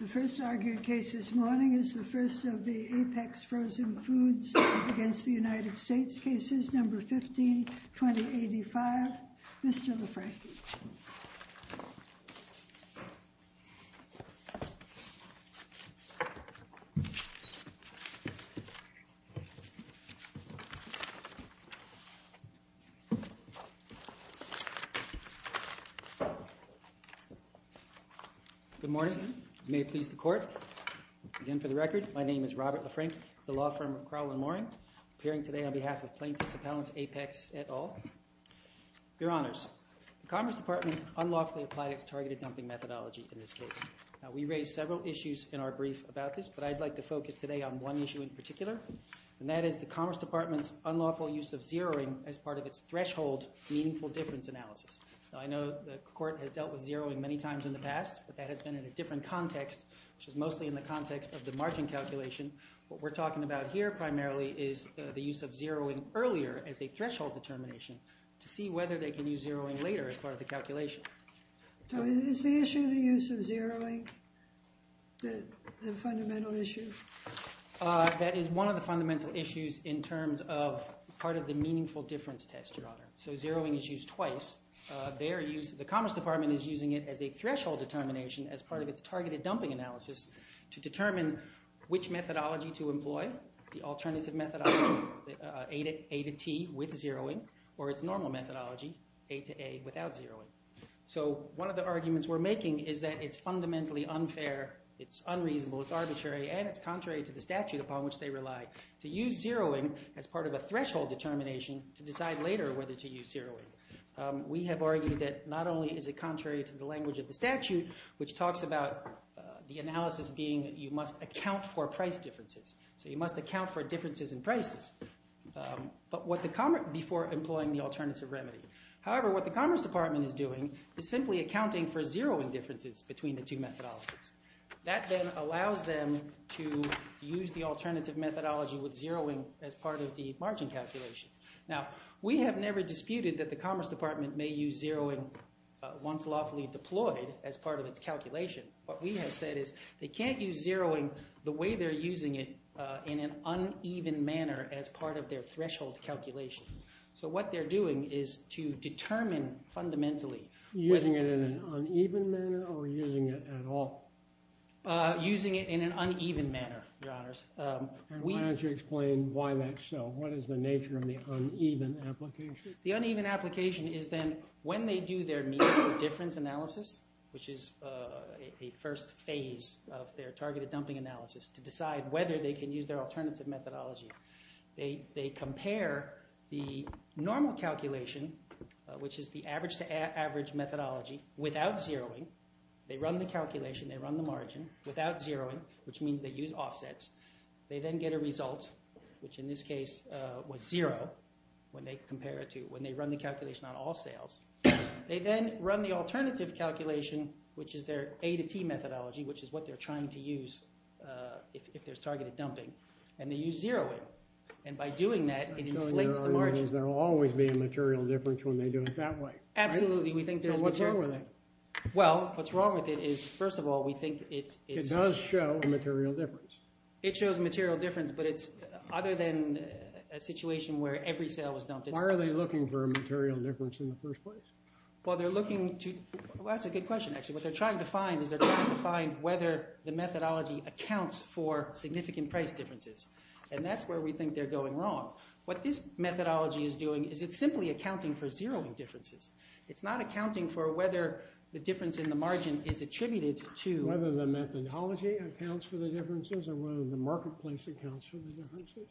The first argued case this morning is the first of the Apex Frozen Foods v. United States This case is number 15-2085. Mr. LaFranchi. Good morning. May it please the court. Again, for the record, my name is Robert LaFranchi, the law firm of Crowell & Moring, appearing today on behalf of plaintiffs' appellants Apex et al. Your Honors, the Commerce Department unlawfully applied its targeted dumping methodology in this case. We raised several issues in our brief about this, but I'd like to focus today on one issue in particular, and that is the Commerce Department's unlawful use of zeroing as part of its threshold meaningful difference analysis. I know the Court has dealt with zeroing many times in the past, but that has been in a different context, which is mostly in the context of the margin calculation. What we're talking about here primarily is the use of zeroing earlier as a threshold determination to see whether they can use zeroing later as part of the calculation. So is the issue the use of zeroing the fundamental issue? That is one of the fundamental issues in terms of part of the meaningful difference test, Your Honor. So zeroing is used twice. The Commerce Department is using it as a threshold determination as part of its targeted dumping analysis to determine which methodology to employ, the alternative methodology, A to T with zeroing, or its normal methodology, A to A without zeroing. So one of the arguments we're making is that it's fundamentally unfair, it's unreasonable, it's arbitrary, and it's contrary to the statute upon which they rely to use zeroing as part of a threshold determination to decide later whether to use zeroing. We have argued that not only is it contrary to the language of the statute, which talks about the analysis being that you must account for price differences. So you must account for differences in prices before employing the alternative remedy. However, what the Commerce Department is doing is simply accounting for zeroing differences between the two methodologies. That then allows them to use the alternative methodology with zeroing as part of the margin calculation. Now, we have never disputed that the Commerce Department may use zeroing once lawfully deployed as part of its calculation. What we have said is they can't use zeroing the way they're using it in an uneven manner as part of their threshold calculation. So what they're doing is to determine fundamentally whether- Using it in an uneven manner or using it at all? Using it in an uneven manner, Your Honors. Why don't you explain why that's so? What is the nature of the uneven application? The uneven application is then when they do their median difference analysis, which is a first phase of their targeted dumping analysis, to decide whether they can use their alternative methodology. They compare the normal calculation, which is the average-to-average methodology, without zeroing. They run the calculation. They run the margin without zeroing, which means they use offsets. They then get a result, which in this case was zero when they compare it to- when they run the calculation on all sales. They then run the alternative calculation, which is their A-to-T methodology, which is what they're trying to use if there's targeted dumping. And they use zeroing. And by doing that, it inflates the margin. There will always be a material difference when they do it that way. Absolutely. We think there's material- So what's wrong with it? Well, what's wrong with it is, first of all, we think it's- It does show a material difference. It shows a material difference, but it's- other than a situation where every sale was dumped, it's- Why are they looking for a material difference in the first place? Well, they're looking to- well, that's a good question, actually. What they're trying to find is they're trying to find whether the methodology accounts for significant price differences. And that's where we think they're going wrong. What this methodology is doing is it's simply accounting for zeroing differences. It's not accounting for whether the difference in the margin is attributed to- The methodology accounts for the differences, or whether the marketplace accounts for the differences?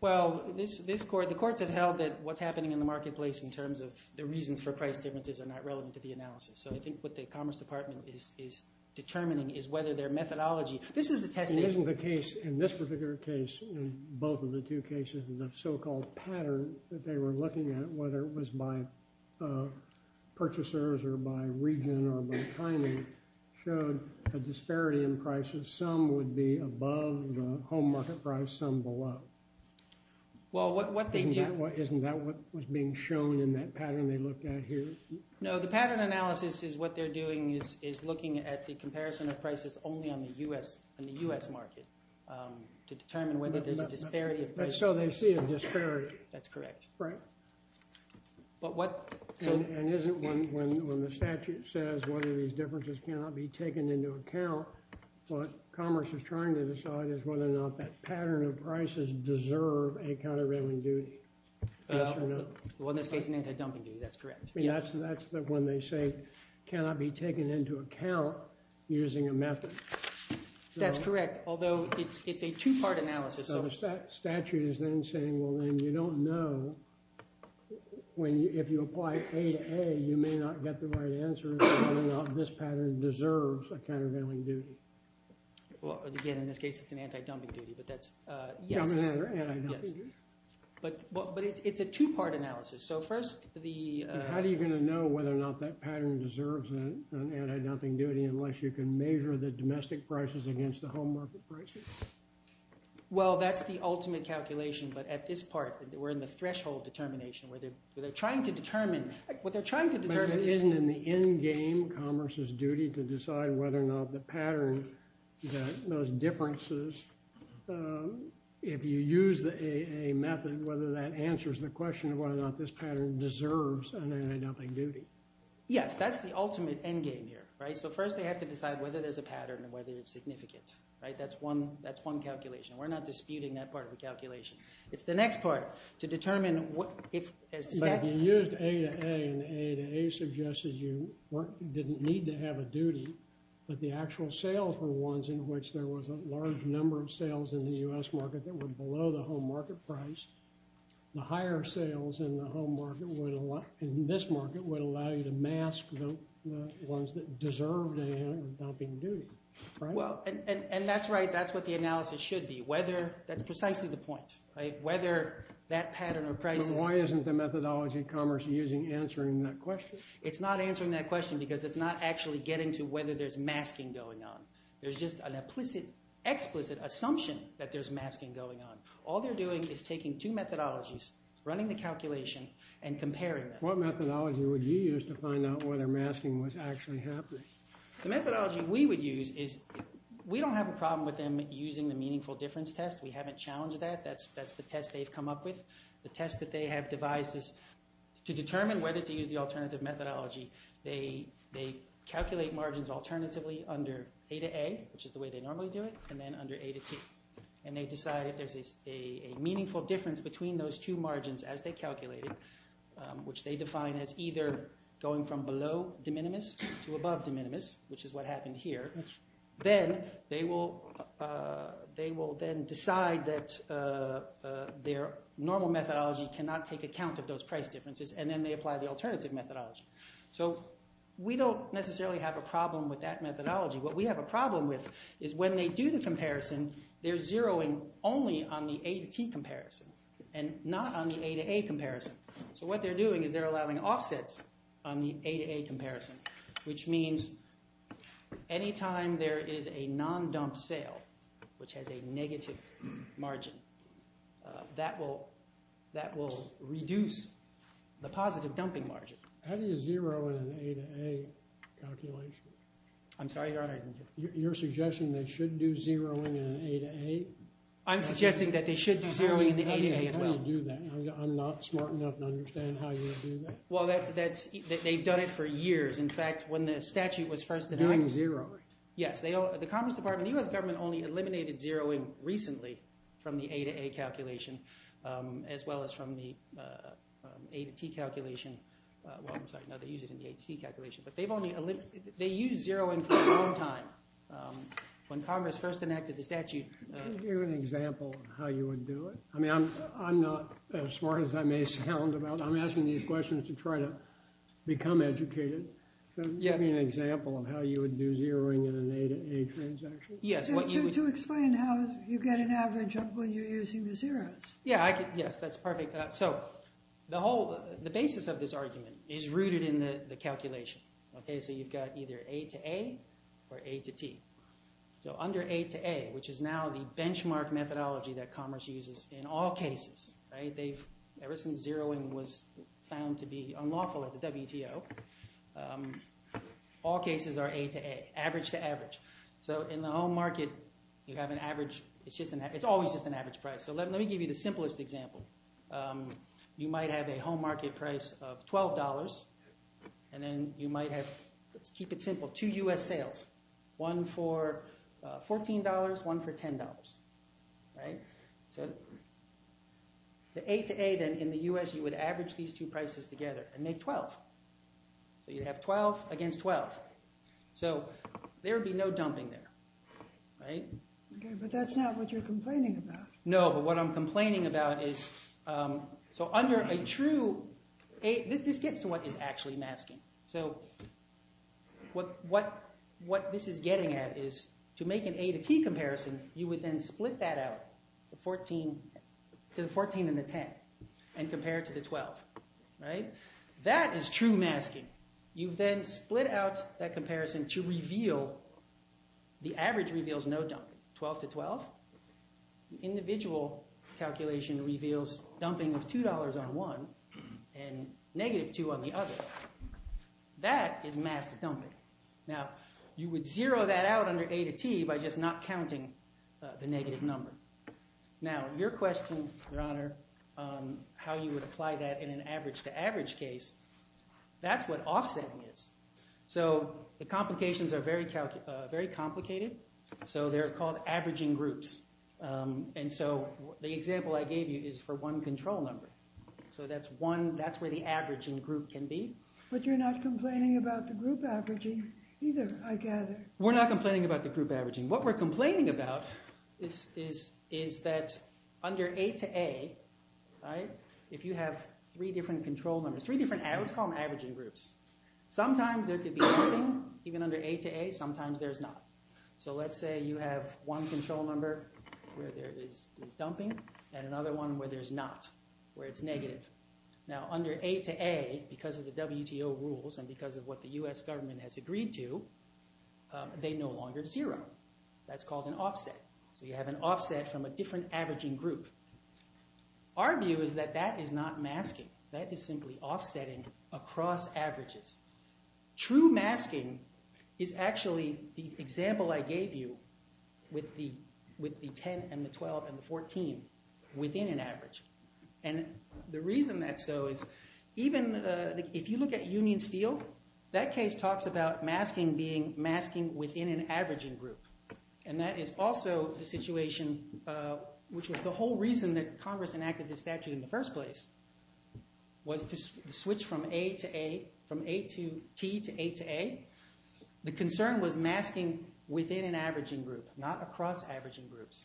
Well, this court- the courts have held that what's happening in the marketplace in terms of the reasons for price differences are not relevant to the analysis. So I think what the Commerce Department is determining is whether their methodology- This is the test- It isn't the case in this particular case, in both of the two cases, the so-called pattern that they were looking at, whether it was by some would be above the home market price, some below. Well, what they do- Isn't that what was being shown in that pattern they looked at here? No, the pattern analysis is what they're doing is looking at the comparison of prices only on the U.S. market to determine whether there's a disparity of- So they see a disparity. That's correct. Right. But what- And isn't when the statute says whether these differences cannot be taken into account, what Commerce is trying to decide is whether or not that pattern of prices deserve a countervailing duty? Yes or no? Well, in this case, an anti-dumping duty. That's correct. I mean, that's when they say cannot be taken into account using a method. That's correct, although it's a two-part analysis. Statute is then saying, well, then you don't know when you, if you apply A to A, you may not get the right answer as to whether or not this pattern deserves a countervailing duty. Well, again, in this case, it's an anti-dumping duty, but that's- Yes. But it's a two-part analysis. So first, the- How are you going to know whether or not that pattern deserves an anti-dumping duty unless you can measure the domestic prices against the home market prices? Well, that's the ultimate calculation, but at this part, we're in the threshold determination where they're trying to determine- What they're trying to determine is- But isn't in the endgame Commerce's duty to decide whether or not the pattern, those differences, if you use the A-A method, whether that answers the question of whether or not this pattern deserves an anti-dumping duty? Yes, that's the ultimate endgame here, right? So first, they have to decide whether there's a pattern and whether it's significant, right? That's one calculation. We're not disputing that part of the calculation. It's the next part, to determine if- But if you used A-A and A-A suggested you didn't need to have a duty, but the actual sales were ones in which there was a large number of sales in the U.S. market that were below the home market price, the higher sales in the home market would allow- Well, and that's right. That's what the analysis should be, whether- That's precisely the point, right? Whether that pattern or prices- But why isn't the methodology Commerce is using answering that question? It's not answering that question because it's not actually getting to whether there's masking going on. There's just an explicit assumption that there's masking going on. All they're doing is taking two methodologies, running the calculation, and comparing them. What methodology would you use to find out whether masking was actually happening? The methodology we would use is- We don't have a problem with them using the meaningful difference test. We haven't challenged that. That's the test they've come up with. The test that they have devised is to determine whether to use the alternative methodology. They calculate margins alternatively under A-A, which is the way they normally do it, and then under A-T. They decide if there's a meaningful difference between those two margins as they calculated, which they define as either going from below de minimis to above de minimis, which is what happened here. Then they will then decide that their normal methodology cannot take account of those price differences, and then they apply the alternative methodology. We don't necessarily have a problem with that methodology. What we have a problem with is when they do the comparison, they're zeroing only on the A-T comparison and not on the A-A comparison. What they're doing is they're allowing offsets on the A-A comparison, which means any time there is a non-dumped sale, which has a negative margin, that will reduce the positive dumping margin. How do you zero in an A-A calculation? I'm sorry, Your Honor. You're suggesting they should do zeroing in an A-A? I'm suggesting that they should do zeroing in the A-A as well. How do you do that? I'm not smart enough to understand how you would do that. They've done it for years. In fact, when the statute was first enacted... Doing zeroing? Yes. The Commerce Department, the U.S. government only eliminated zeroing recently from the A-A calculation as well as from the A-T calculation. Well, I'm sorry. No, they use it in the A-T calculation. They used zeroing for a long time. When Congress first enacted the statute... Can you give an example of how you would do it? I'm not as smart as I may sound about it. To try to become educated, can you give me an example of how you would do zeroing in an A-A transaction? To explain how you get an average when you're using the zeros. Yes, that's perfect. The basis of this argument is rooted in the calculation. You've got either A-A or A-T. Under A-A, which is now the benchmark methodology that Commerce uses in all cases. Ever since zeroing was found to be unlawful at the WTO, all cases are A-A, average to average. In the home market, you have an average. It's always just an average price. Let me give you the simplest example. You might have a home market price of $12. Let's keep it simple. Two U.S. sales. One for $14, one for $10. The A-A in the U.S., you would average these two prices together and make $12. You'd have $12 against $12. There would be no dumping there. That's not what you're complaining about. No, but what I'm complaining about is... This gets to what is actually masking. So what this is getting at is, to make an A-T comparison, you would then split that out to the $14 and the $10 and compare it to the $12. That is true masking. You then split out that comparison to reveal... The average reveals no dumping. $12 to $12. The individual calculation reveals dumping of $2 on one and negative two on the other. That is masked dumping. Now, you would zero that out under A-T by just not counting the negative number. Now, your question, Your Honor, how you would apply that in an average to average case, that's what offsetting is. The complications are very complicated. They're called averaging groups. The example I gave you is for one control number. So that's where the averaging group can be. But you're not complaining about the group averaging either, I gather. We're not complaining about the group averaging. What we're complaining about is that under A-A, if you have three different control numbers, three different... Let's call them averaging groups. Sometimes there could be dumping. Even under A-A, sometimes there's not. So let's say you have one control number where there is dumping and another one where there's not, where it's negative. Now, under A-A, because of the WTO rules and because of what the U.S. government has agreed to, they no longer zero. That's called an offset. So you have an offset from a different averaging group. Our view is that that is not masking. That is simply offsetting across averages. True masking is actually the example I gave you with the 10 and the 12 and the 14 within an average. And the reason that's so is even if you look at Union Steel, that case talks about masking being masking within an averaging group. And that is also the situation which was the whole reason that Congress enacted this statute in the first place was to switch from A to T to A to A. The concern was masking within an averaging group, not across averaging groups.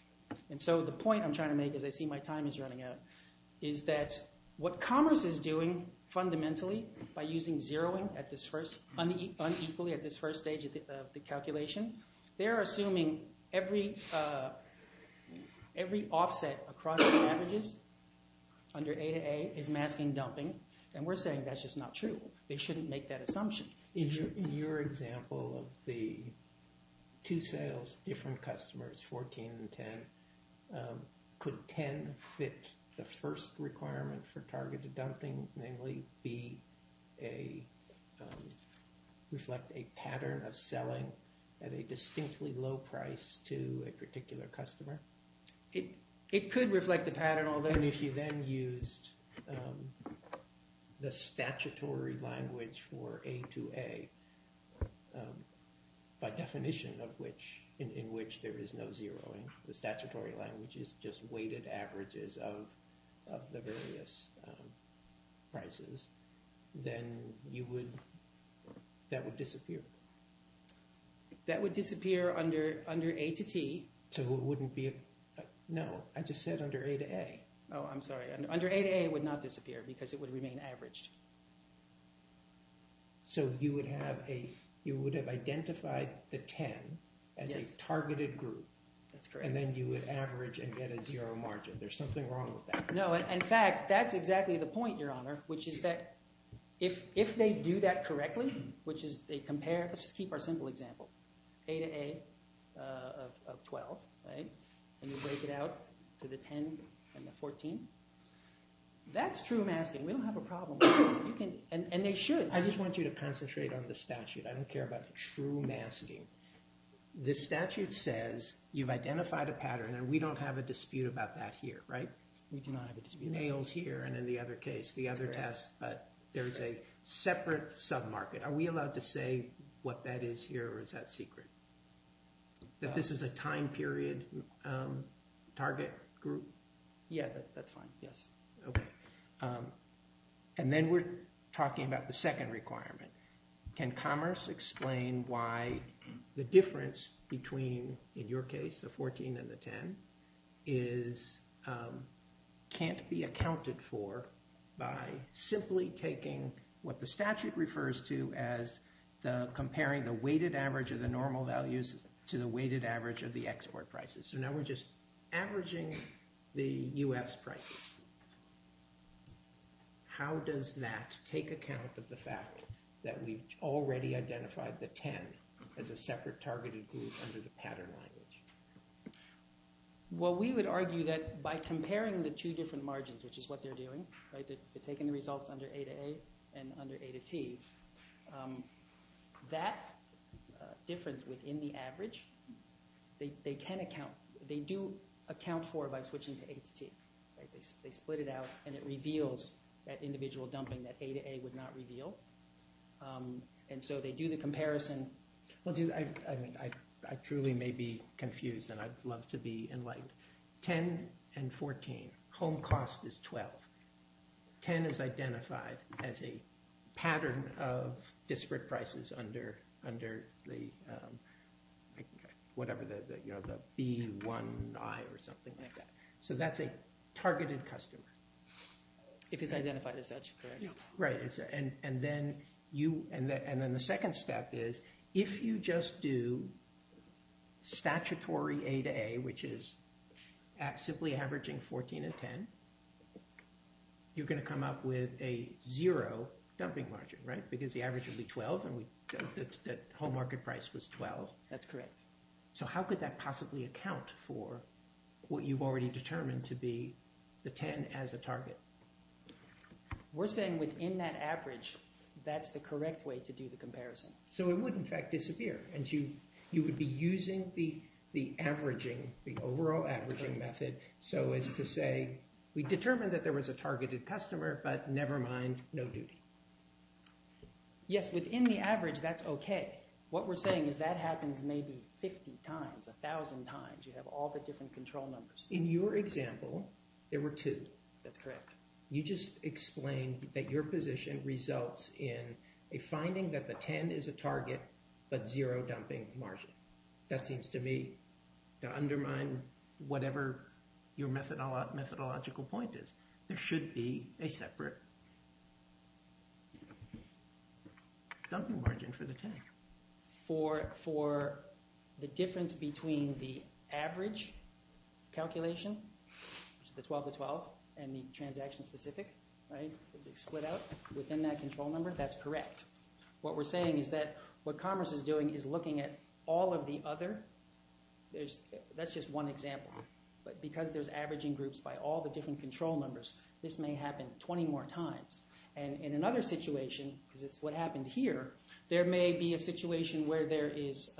And so the point I'm trying to make, as I see my time is running out, is that what Congress is doing fundamentally by using zeroing unequally at this first stage of calculation, they're assuming every offset across averages under A to A is masking dumping. And we're saying that's just not true. They shouldn't make that assumption. In your example of the two sales, different customers, 14 and 10, could 10 fit the first requirement for targeted dumping, namely B, A, reflect a pattern of selling at a distinctly low price to a particular customer? It could reflect the pattern, although... And if you then used the statutory language for A to A, by definition of which, in which there is no zeroing, the statutory language is just weighted averages of the various prices, then you would, that would disappear. That would disappear under A to T. So it wouldn't be, no, I just said under A to A. Oh, I'm sorry. Under A to A, it would not disappear because it would remain averaged. So you would have a, you would have identified the 10 as a targeted group. That's correct. And then you would average and get a zero margin. There's something wrong with that. No, in fact, that's exactly the point, Your Honor, which is that if they do that correctly, which is they compare, let's just keep our simple example, A to A of 12, right? And you break it out to the 10 and the 14. That's true masking. We don't have a problem with that. You can, and they should. I just want you to concentrate on the statute. I don't care about true masking. The statute says you've identified a pattern and we don't have a dispute about that here, right? We do not have a dispute. Nails here and in the other case, the other test. But there's a separate sub-market. Are we allowed to say what that is here or is that secret? That this is a time period target group? Yeah, that's fine, yes. Okay, and then we're talking about the second requirement. Can commerce explain why the difference between, in your case, the 14 and the 10 can't be accounted for by simply taking what the statute refers to as comparing the weighted average of the normal values to the weighted average of the export prices? So now we're just averaging the U.S. prices. How does that take account of the fact that we've already identified the 10 as a separate targeted group under the pattern language? Well, we would argue that by comparing the two different margins, which is what they're doing, right? They're taking the results under A to A and under A to T. That difference within the average, they can account, they do account for by switching to A to T, right? They split it out and it reveals that individual dumping that A to A would not reveal. And so they do the comparison. Well, I truly may be confused and I'd love to be enlightened. 10 and 14, home cost is 12. 10 is identified as a pattern of disparate prices under the B1I or something like that. So that's a targeted customer. If it's identified as such, correct. Right, and then the second step is if you just do statutory A to A, which is simply averaging 14 and 10, you're going to come up with a zero dumping margin, right? Because the average would be 12 and the whole market price was 12. That's correct. So how could that possibly account for what you've already determined to be the 10 as a target? We're saying within that average, that's the correct way to do the comparison. So it would in fact disappear and you would be using the averaging, the overall averaging method so as to say, we determined that there was a targeted customer, but nevermind, no duty. Yes, within the average, that's okay. What we're saying is that happens maybe 50 times, a thousand times. You have all the different control numbers. In your example, there were two. That's correct. You just explained that your position results in a finding that the 10 is a target, but zero dumping margin. That seems to me to undermine whatever your methodological point is. There should be a separate dumping margin for the 10. For the difference between the average calculation, which is the 12 to 12, and the transaction specific, right? They split out within that control number. That's correct. What we're saying is that what Commerce is doing is looking at all of the other. That's just one example. But because there's averaging groups by all the different control numbers, this may happen 20 more times. And in another situation, because it's what happened here, there may be a situation where there is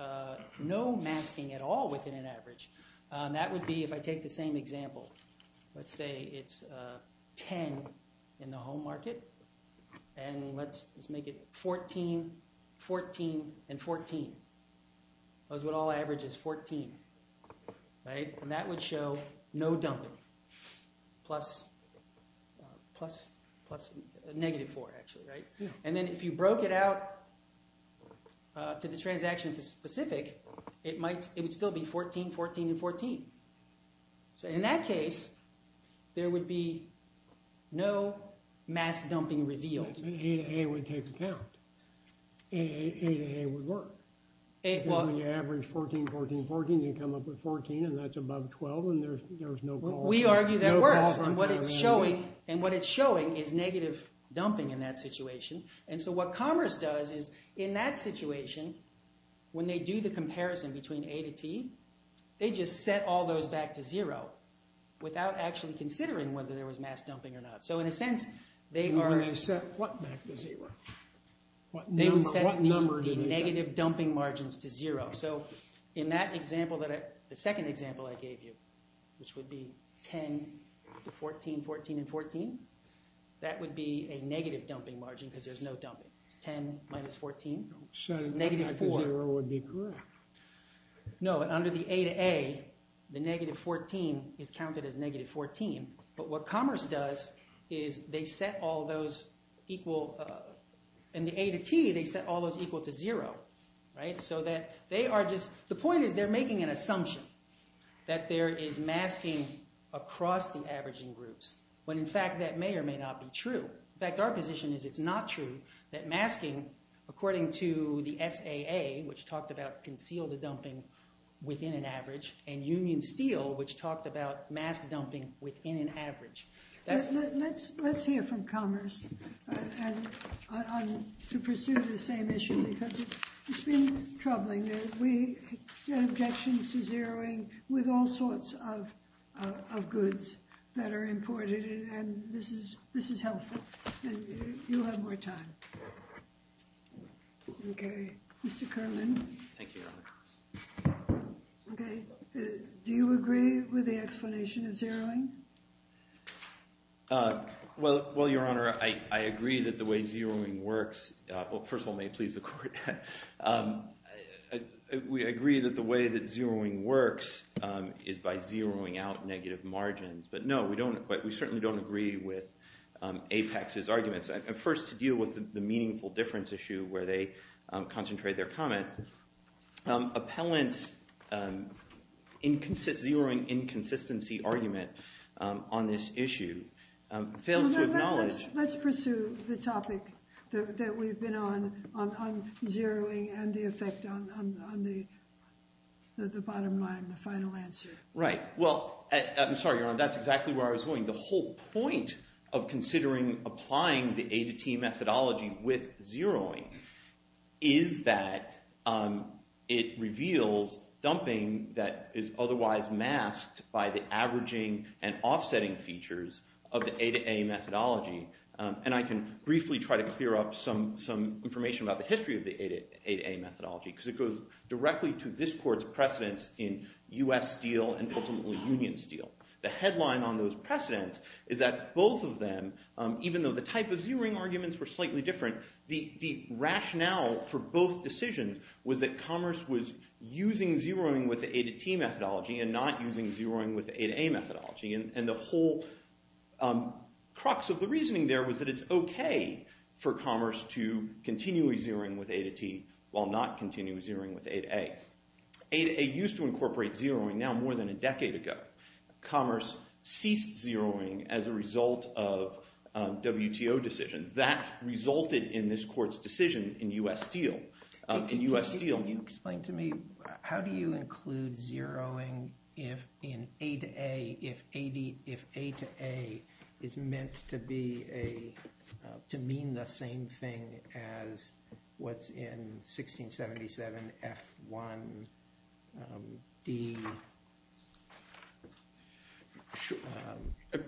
no masking at all within an average. That would be if I take the same example. Let's say it's 10 in the home market. And let's make it 14, 14, and 14. That's what all average is, 14. And that would show no dumping. Plus negative four, actually, right? And then if you broke it out to the transaction specific, it would still be 14, 14, and 14. So in that case, there would be no mask dumping revealed. And A to A would take the count. A to A would work. When you average 14, 14, 14, you come up with 14, and that's above 12, and there's no call. We argue that works. And what it's showing is negative dumping in that situation. And so what Commerce does is, in that situation, when they do the comparison between A to T, they just set all those back to zero without actually considering whether there was mask dumping or not. So in a sense, they are... When they set what back to zero? They would set the negative dumping margins to zero. So in that example, the second example I gave you, which would be 10 to 14, 14, and 14, that would be a negative dumping margin because there's no dumping. It's 10 minus 14. It's negative four. So negative zero would be correct. No, under the A to A, the negative 14 is counted as negative 14. But what Commerce does is they set all those equal... In the A to T, they set all those equal to zero, right? So that they are just... The point is they're making an assumption that there is masking across the averaging groups, when in fact that may or may not be true. In fact, our position is it's not true, that masking, according to the SAA, which talked about conceal the dumping within an average, and Union Steel, which talked about mask dumping within an average. Let's hear from Commerce to pursue the same issue because it's been troubling. We get objections to zeroing with all sorts of goods that are imported, and this is helpful, and you'll have more time. Okay, Mr. Kerman. Thank you, Your Honor. Okay, do you agree with the explanation of zeroing? Well, Your Honor, I agree that the way zeroing works... Well, first of all, may it please the Court. I agree that the way that zeroing works is by zeroing out negative margins, but no, we certainly don't agree with Apex's arguments. First, to deal with the meaningful difference issue where they concentrate their comment. Appellant's zeroing inconsistency argument on this issue fails to acknowledge... Zeroing and the effect on the bottom line, the final answer. Right, well, I'm sorry, Your Honor, that's exactly where I was going. The whole point of considering applying the A to T methodology with zeroing is that it reveals dumping that is otherwise masked by the averaging and offsetting features of the A to A methodology, and I can briefly try to clear up some information about the history of the A to A methodology, because it goes directly to this Court's precedence in U.S. Steel and ultimately Union Steel. The headline on those precedents is that both of them, even though the type of zeroing arguments were slightly different, the rationale for both decisions was that commerce was using zeroing with the A to T methodology and not using zeroing with the A to A methodology, and the whole crux of the reasoning there was that it's okay for commerce to continually zeroing with A to T while not continually zeroing with A to A. A to A used to incorporate zeroing now more than a decade ago. Commerce ceased zeroing as a result of WTO decisions. That resulted in this Court's decision in U.S. Steel. In U.S. Steel... Can you explain to me, how do you include zeroing in A to A if A to A is meant to mean the same thing as what's in 1677 F1-D-E-A-I?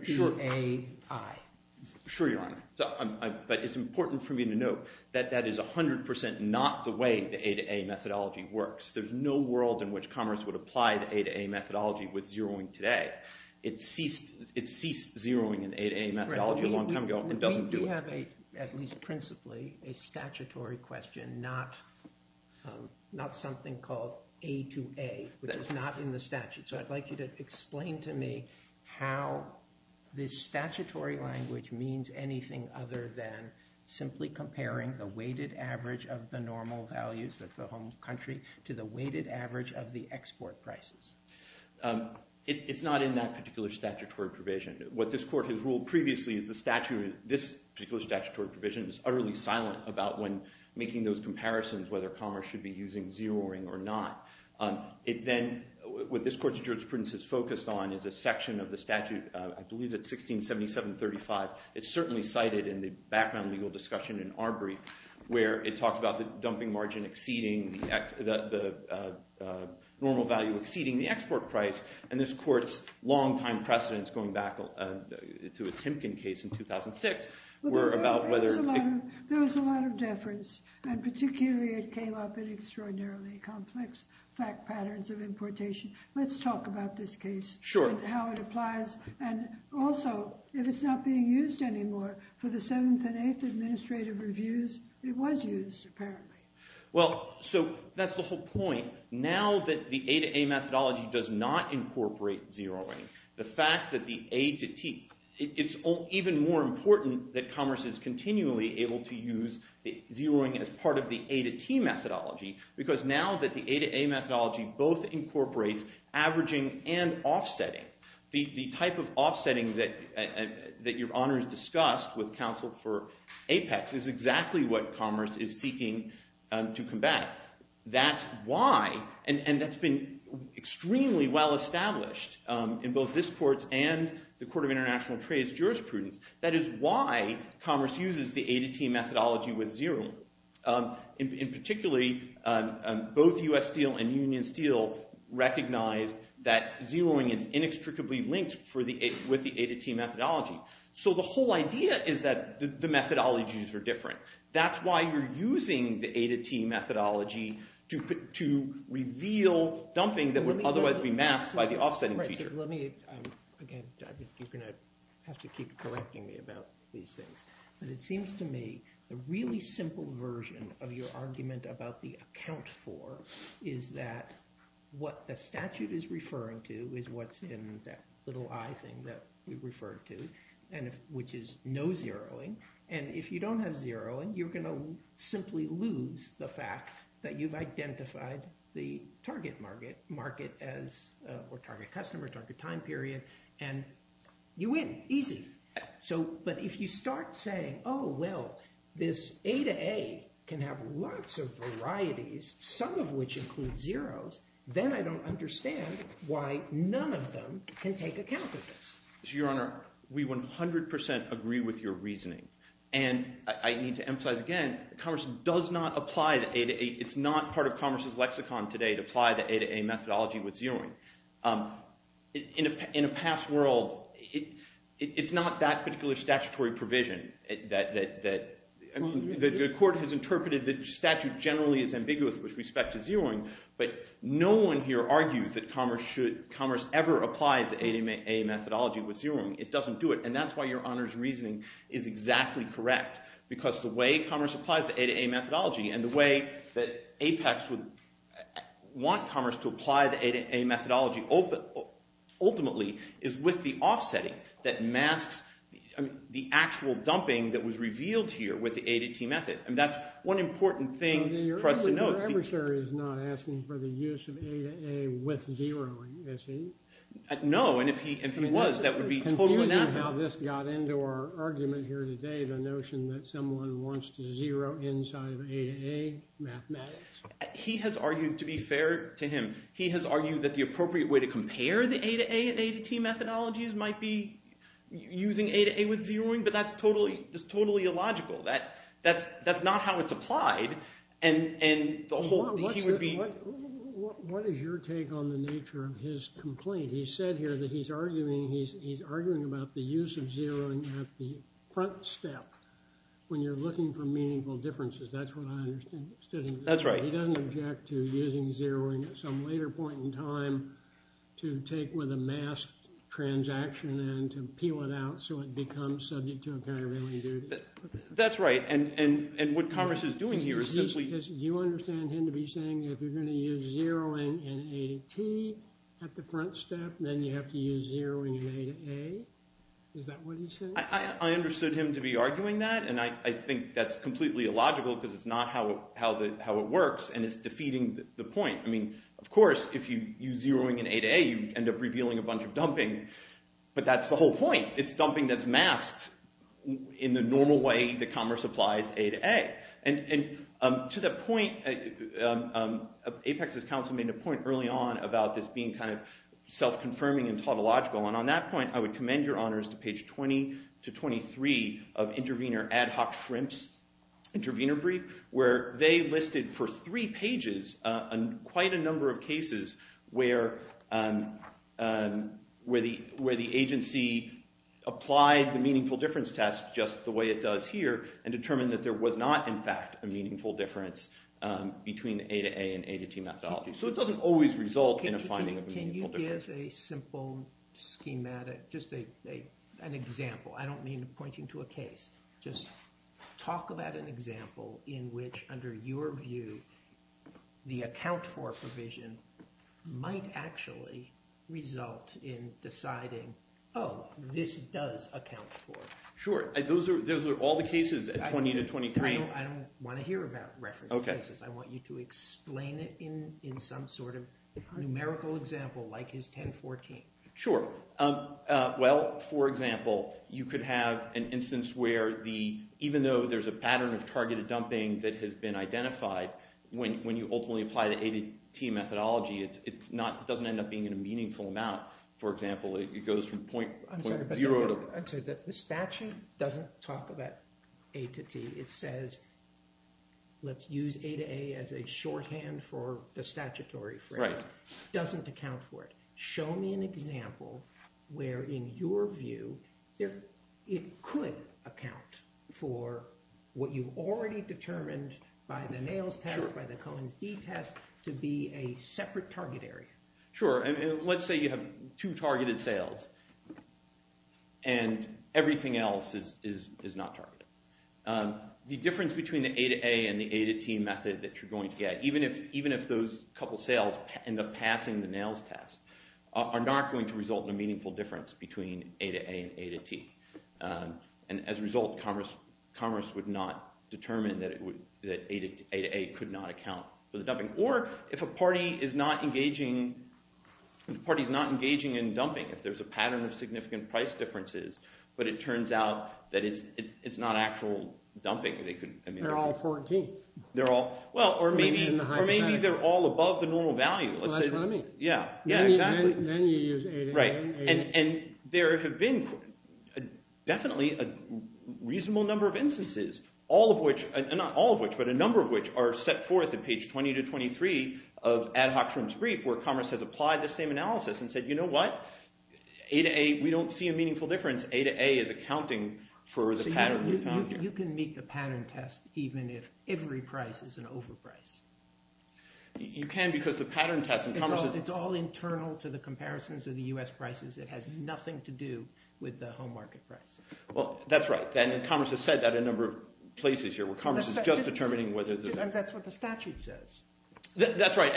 Sure, Your Honor. But it's important for me to note that that is 100% not the way the A to A methodology works. There's no world in which commerce would apply the A to A methodology with zeroing today. It ceased zeroing in A to A methodology a long time ago and doesn't do it. We have a, at least principally, a statutory question, not something called A to A, which is not in the statute. So I'd like you to explain to me how this statutory language means anything other than simply comparing the weighted average of the normal values of the home country to the weighted average of the export prices. Um, it's not in that particular statutory provision. What this court has ruled previously is the statute, this particular statutory provision, is utterly silent about when making those comparisons, whether commerce should be using zeroing or not. It then, what this court's jurisprudence has focused on is a section of the statute, I believe it's 1677-35. It's certainly cited in the background legal discussion in Arbery, where it talks about the dumping margin exceeding the normal value, exceeding the export price. And this court's long-time precedence, going back to a Timken case in 2006, were about whether... There was a lot of deference, and particularly it came up in extraordinarily complex fact patterns of importation. Let's talk about this case. Sure. And how it applies. And also, if it's not being used anymore for the 7th and 8th administrative reviews, it was used, apparently. Well, so that's the whole point. Now that the A-to-A methodology does not incorporate zeroing, the fact that the A-to-T... It's even more important that commerce is continually able to use zeroing as part of the A-to-T methodology, because now that the A-to-A methodology both incorporates averaging and offsetting, the type of offsetting that Your Honor has discussed with counsel for APEX is exactly what commerce is seeking to combat. That's why... And that's been extremely well established in both this court and the Court of International Trade's jurisprudence. That is why commerce uses the A-to-T methodology with zeroing. Particularly, both U.S. Steel and Union Steel recognize that zeroing is inextricably linked with the A-to-T methodology. So the whole idea is that the methodologies are different. That's why you're using the A-to-T methodology to reveal dumping that would otherwise be masked by the offsetting feature. Let me... Again, you're going to have to keep correcting me about these things. But it seems to me the really simple version of your argument about the account for is that what the statute is referring to is what's in that little I thing that we referred to, which is no zeroing. And if you don't have zeroing, you're going to simply lose the fact that you've identified the target market as a target customer, target time period, and you win. Easy. But if you start saying, oh, well, this A-to-A can have lots of varieties, some of which include zeros, then I don't understand why none of them can take account of this. So, Your Honor, we 100% agree with your reasoning. And I need to emphasize again, Commerce does not apply the A-to-A. It's not part of Commerce's lexicon today to apply the A-to-A methodology with zeroing. In a past world, it's not that particular statutory provision that... The court has interpreted the statute generally is ambiguous with respect to zeroing, but no one here argues that Commerce should... Commerce ever applies the A-to-A methodology with zeroing. It doesn't do it. And that's why Your Honor's reasoning is exactly correct. Because the way Commerce applies the A-to-A methodology and the way that Apex would want Commerce to apply the A-to-A methodology ultimately is with the offsetting that masks the actual dumping that was revealed here with the A-to-T method. And that's one important thing for us to note. Your adversary is not asking for the use of A-to-A with zeroing, is he? No, and if he was, that would be totally inappropriate. Now this got into our argument here today, the notion that someone wants to zero inside of A-to-A mathematics. He has argued, to be fair to him, he has argued that the appropriate way to compare the A-to-A and A-to-T methodologies might be using A-to-A with zeroing, but that's totally illogical. That's not how it's applied. And the whole... What is your take on the nature of his complaint? He said here that he's arguing about the use of zeroing at the front step when you're looking for meaningful differences. That's what I understood. That's right. He doesn't object to using zeroing at some later point in time to take with a masked transaction and to peel it out so it becomes subject to a countervailing duty. That's right. And what Congress is doing here is simply... You understand him to be saying if you're going to use zeroing in A-to-T at the front step, then you have to use zeroing in A-to-A. Is that what he said? I understood him to be arguing that, and I think that's completely illogical because it's not how it works and it's defeating the point. I mean, of course, if you use zeroing in A-to-A, you end up revealing a bunch of dumping, but that's the whole point. It's dumping that's masked in the normal way that commerce applies A-to-A. And to that point, Apex's counsel made a point early on about this being self-confirming and tautological, and on that point, I would commend your honors to page 20 to 23 of Intervenor Ad Hoc Shrimps Intervenor Brief, where they listed for three pages quite a number of cases where the agency applied the meaningful difference test just the way it does here and determined that there was not, in fact, a meaningful difference between the A-to-A and A-to-T methodology. So it doesn't always result in a finding of a meaningful difference. Can you give a simple schematic, just an example? I don't mean pointing to a case. Just talk about an example in which, under your view, the account for provision might actually result in deciding, oh, this does account for. Sure. Those are all the cases at 20 to 23. I don't want to hear about reference cases. I want you to explain it in some sort of numerical example, like his 10-14. Sure. Well, for example, you could have an instance where even though there's a pattern of targeted dumping that has been identified, when you ultimately apply the A-to-T methodology, it doesn't end up being in a meaningful amount. For example, it goes from point zero to. I'm sorry, but the statute doesn't talk about A-to-T. It says, let's use A-to-A as a shorthand for the statutory phrase. Right. Doesn't account for it. Show me an example where, in your view, it could account for what you've already determined by the NAILS test, by the Cohen's d-test, to be a separate target area. Sure. Let's say you have two targeted sales and everything else is not targeted. The difference between the A-to-A and the A-to-T method that you're going to get, even if those couple sales end up passing the NAILS test, are not going to result in a meaningful difference between A-to-A and A-to-T. And as a result, commerce would not determine that A-to-A could not account for the dumping. Or, if a party is not engaging in dumping, if there's a pattern of significant price differences, but it turns out that it's not actual dumping, they could, I mean. They're all 4-and-T. They're all, well, or maybe they're all above the normal value. Well, that's what I mean. Yeah, yeah, exactly. Then you use A-to-A. Right, and there have been definitely a reasonable number of instances, all of which, not all of which, but a number of which, are set forth in page 20-23 of Ad Hoc's Room's brief where commerce has applied the same analysis and said, you know what? A-to-A, we don't see a meaningful difference. A-to-A is accounting for the pattern we found here. You can meet the pattern test even if every price is an overprice. You can because the pattern test in commerce is... It's all internal to the comparisons of the U.S. prices. It has nothing to do with the home market price. Well, that's right, and commerce has said that in a number of places here where commerce is just determining whether there's a... That's what the statute says. That's right,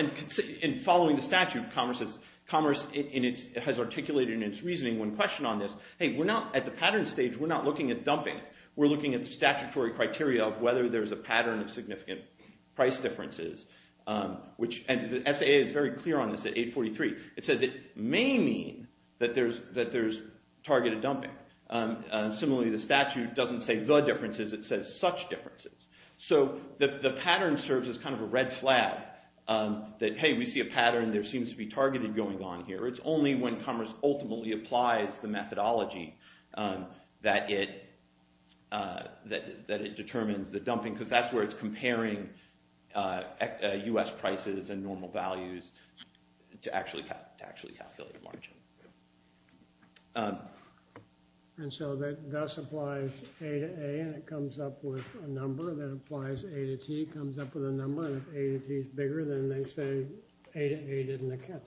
and following the statute, commerce has articulated in its reasoning one question on this. Hey, we're not, at the pattern stage, we're not looking at dumping. We're looking at the statutory criteria of whether there's a pattern of significant price differences, which the SAA is very clear on this at 843. It says it may mean that there's targeted dumping. Similarly, the statute doesn't say the differences. It says such differences. So the pattern serves as kind of a red flag that, hey, we see a pattern. There seems to be targeted going on here. It's only when commerce ultimately applies the methodology that it determines the dumping because that's where it's comparing U.S. prices and normal values to actually calculate the margin. And so that thus applies A to A and it comes up with a number that applies A to T, comes up with a number, and if A to T is bigger, then they say A to A didn't occur.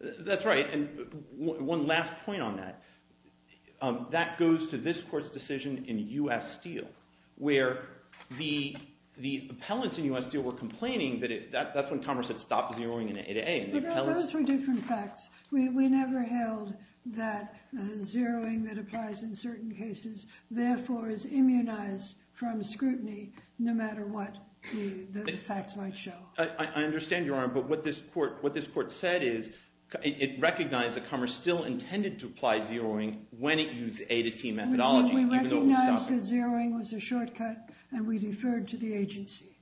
That's right, and one last point on that. That goes to this court's decision in U.S. Steel, where the appellants in U.S. Steel were complaining that that's when commerce had stopped zeroing in A to A. But those were different facts. We never held that zeroing that applies in certain cases therefore is immunized from scrutiny no matter what the facts might show. I understand, Your Honor, but what this court said is it recognized that commerce still intended to apply zeroing when it used A to T methodology. We recognized that zeroing was a shortcut and we deferred to the agency.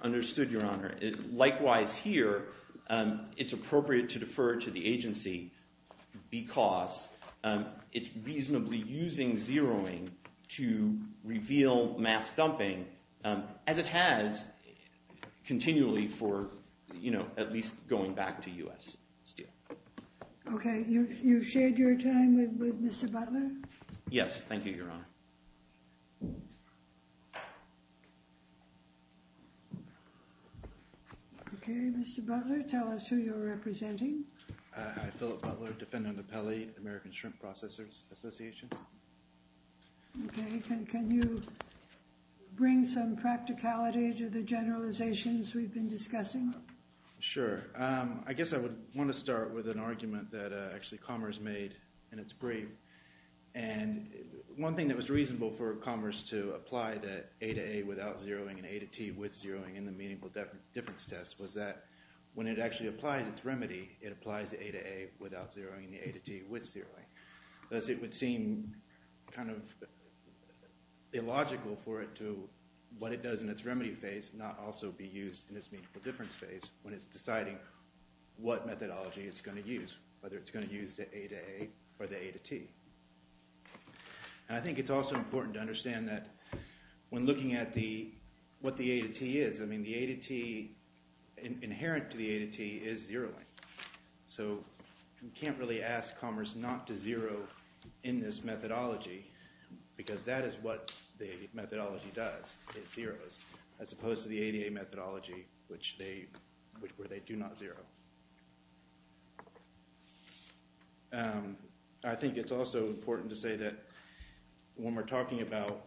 Understood, Your Honor. Likewise here, it's appropriate to defer to the agency because it's reasonably using zeroing to reveal mass dumping as it has continually for, you know, at least going back to U.S. Steel. Okay, you've shared your time with Mr. Butler? Yes, thank you, Your Honor. Okay, Mr. Butler, tell us who you're representing. I'm Philip Butler, defendant appellee, American Shrimp Processors Association. Okay, can you bring some practicality to the generalizations we've been discussing? Sure, I guess I would want to start with an argument that actually Commerce made in its brief. And one thing that was reasonable for Commerce to apply the A to A without zeroing and A to T with zeroing in the Meaningful Difference Test was that when it actually applies its remedy, it applies the A to A without zeroing and the A to T with zeroing. Thus, it would seem kind of illogical for it to what it does in its remedy phase not also be used in its Meaningful Difference phase when it's deciding what methodology it's going to use, whether it's going to use the A to A or the A to T. And I think it's also important to understand that when looking at what the A to T is, I mean, the A to T inherent to the A to T is zeroing. So you can't really ask Commerce not to zero in this methodology because that is what the methodology does. It zeroes as opposed to the A to A methodology, which they do not zero. And I think it's also important to say that when we're talking about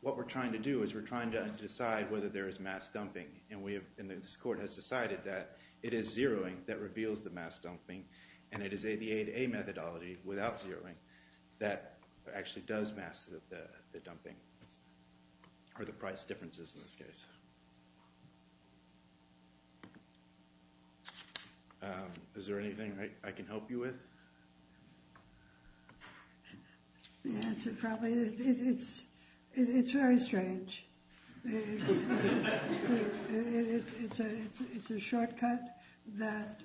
what we're trying to do is we're trying to decide whether there is mass dumping and this court has decided that it is zeroing that reveals the mass dumping and it is the A to A methodology without zeroing that actually does mass the dumping or the price differences in this case. Is there anything I can help you with? Yeah, so probably it's very strange. It's a shortcut that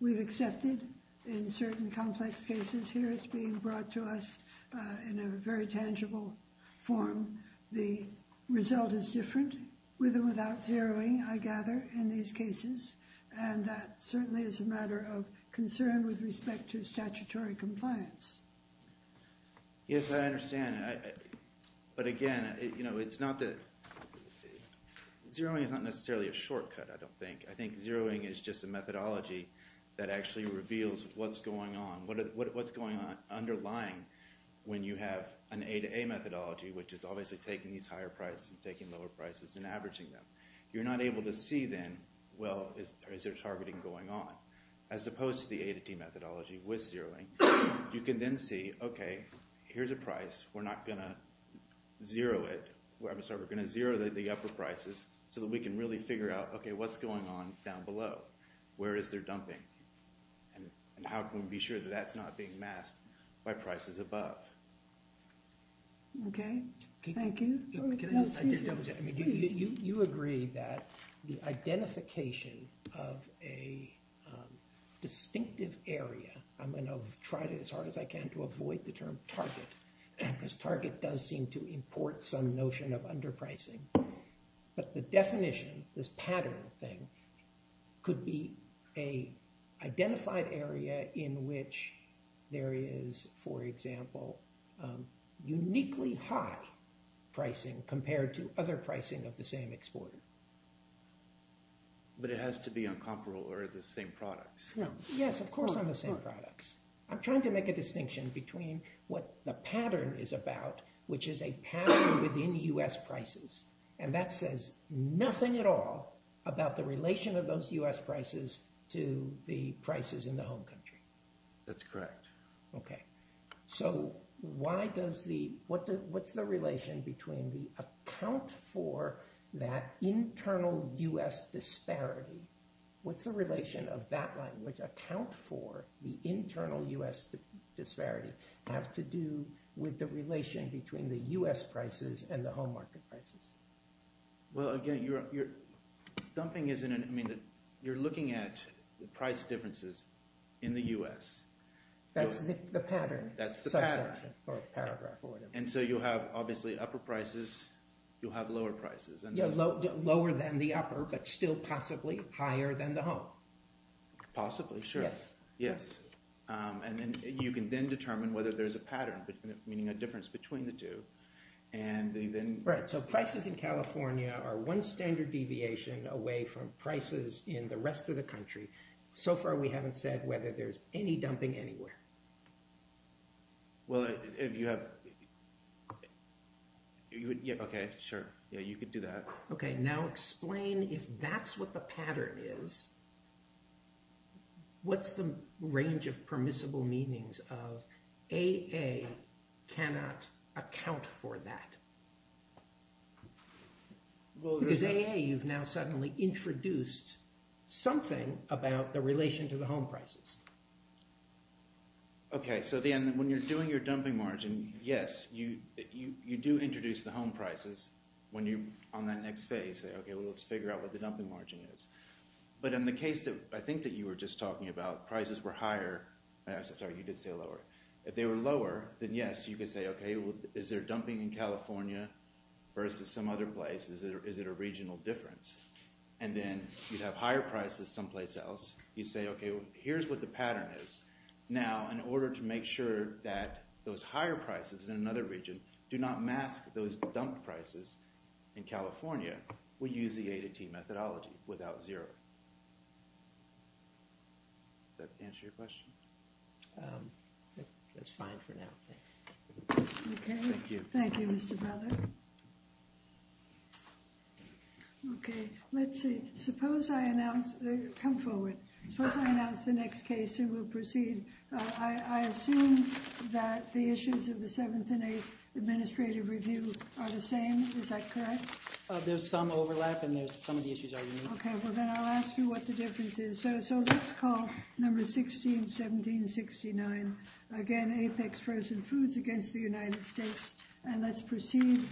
we've accepted in certain complex cases here. It's being brought to us in a very tangible form. The result is different with and without zeroing, I gather, in these cases. And that certainly is a matter of concern with respect to statutory compliance. Yes, I understand. But again, zeroing is not necessarily a shortcut, I don't think. I think zeroing is just a methodology that actually reveals what's going on. What's going on underlying when you have an A to A methodology, which is obviously taking these higher prices and taking lower prices and averaging them. You're not able to see then, well, is there targeting going on? As opposed to the A to D methodology with zeroing, you can then see, okay, here's a price, we're not going to zero it. We're going to zero the upper prices so that we can really figure out, okay, what's going on down below? Where is there dumping? And how can we be sure that that's not being masked by prices above? Okay, thank you. Can I just double check? You agree that the identification of a distinctive area, I'm going to try as hard as I can to avoid the term target, because target does seem to import some notion of underpricing. But the definition, this pattern thing, could be a identified area in which there is, for example, uniquely high pricing compared to other pricing of the same exporter. But it has to be on comparable or the same products. Yes, of course on the same products. I'm trying to make a distinction between what the pattern is about, which is a pattern within US prices. And that says nothing at all about the relation of those US prices to the prices in the home country. That's correct. Okay, so what's the relation between the account for that internal US disparity? What's the relation of that language, account for the internal US disparity, have to do with the relation between the US prices and the home market prices? Well, again, you're looking at the price differences in the US. That's the pattern. That's the pattern. Or paragraph or whatever. And so you have obviously upper prices, you'll have lower prices. Lower than the upper, but still possibly higher than the home. Possibly, sure, yes. And you can then determine whether there's a pattern, meaning a difference between the two. And then... Right, so prices in California are one standard deviation away from prices in the rest of the country. So far, we haven't said whether there's any dumping anywhere. Well, if you have... Okay, sure. Yeah, you could do that. Okay, now explain if that's what the pattern is, what's the range of permissible meanings of AA cannot account for that? Because AA, you've now suddenly introduced something about the relation to the home prices. Okay, so then when you're doing your dumping margin, yes, you do introduce the home prices when you're on that next phase. Say, okay, well, let's figure out what the dumping margin is. But in the case that I think that you were just talking about, prices were higher. I'm sorry, you did say lower. If they were lower, then yes, you could say, okay, is there dumping in California versus some other place? Is it a regional difference? And then you'd have higher prices someplace else. You'd say, okay, here's what the pattern is. Now, in order to make sure that those higher prices in another region do not mask those dump prices in California, we use the A to T methodology without zero. Does that answer your question? That's fine for now, thanks. Okay, thank you, Mr. Butler. Okay, let's see. Suppose I announce... Come forward. Suppose I announce the next case and we'll proceed. I assume that the issues of the Seventh and Eighth Administrative Review are the same. Is that correct? There's some overlap and some of the issues are unique. Okay, well, then I'll ask you what the difference is. So let's call numbers 16, 17, 69. Again, Apex frozen foods against the United States. And let's proceed.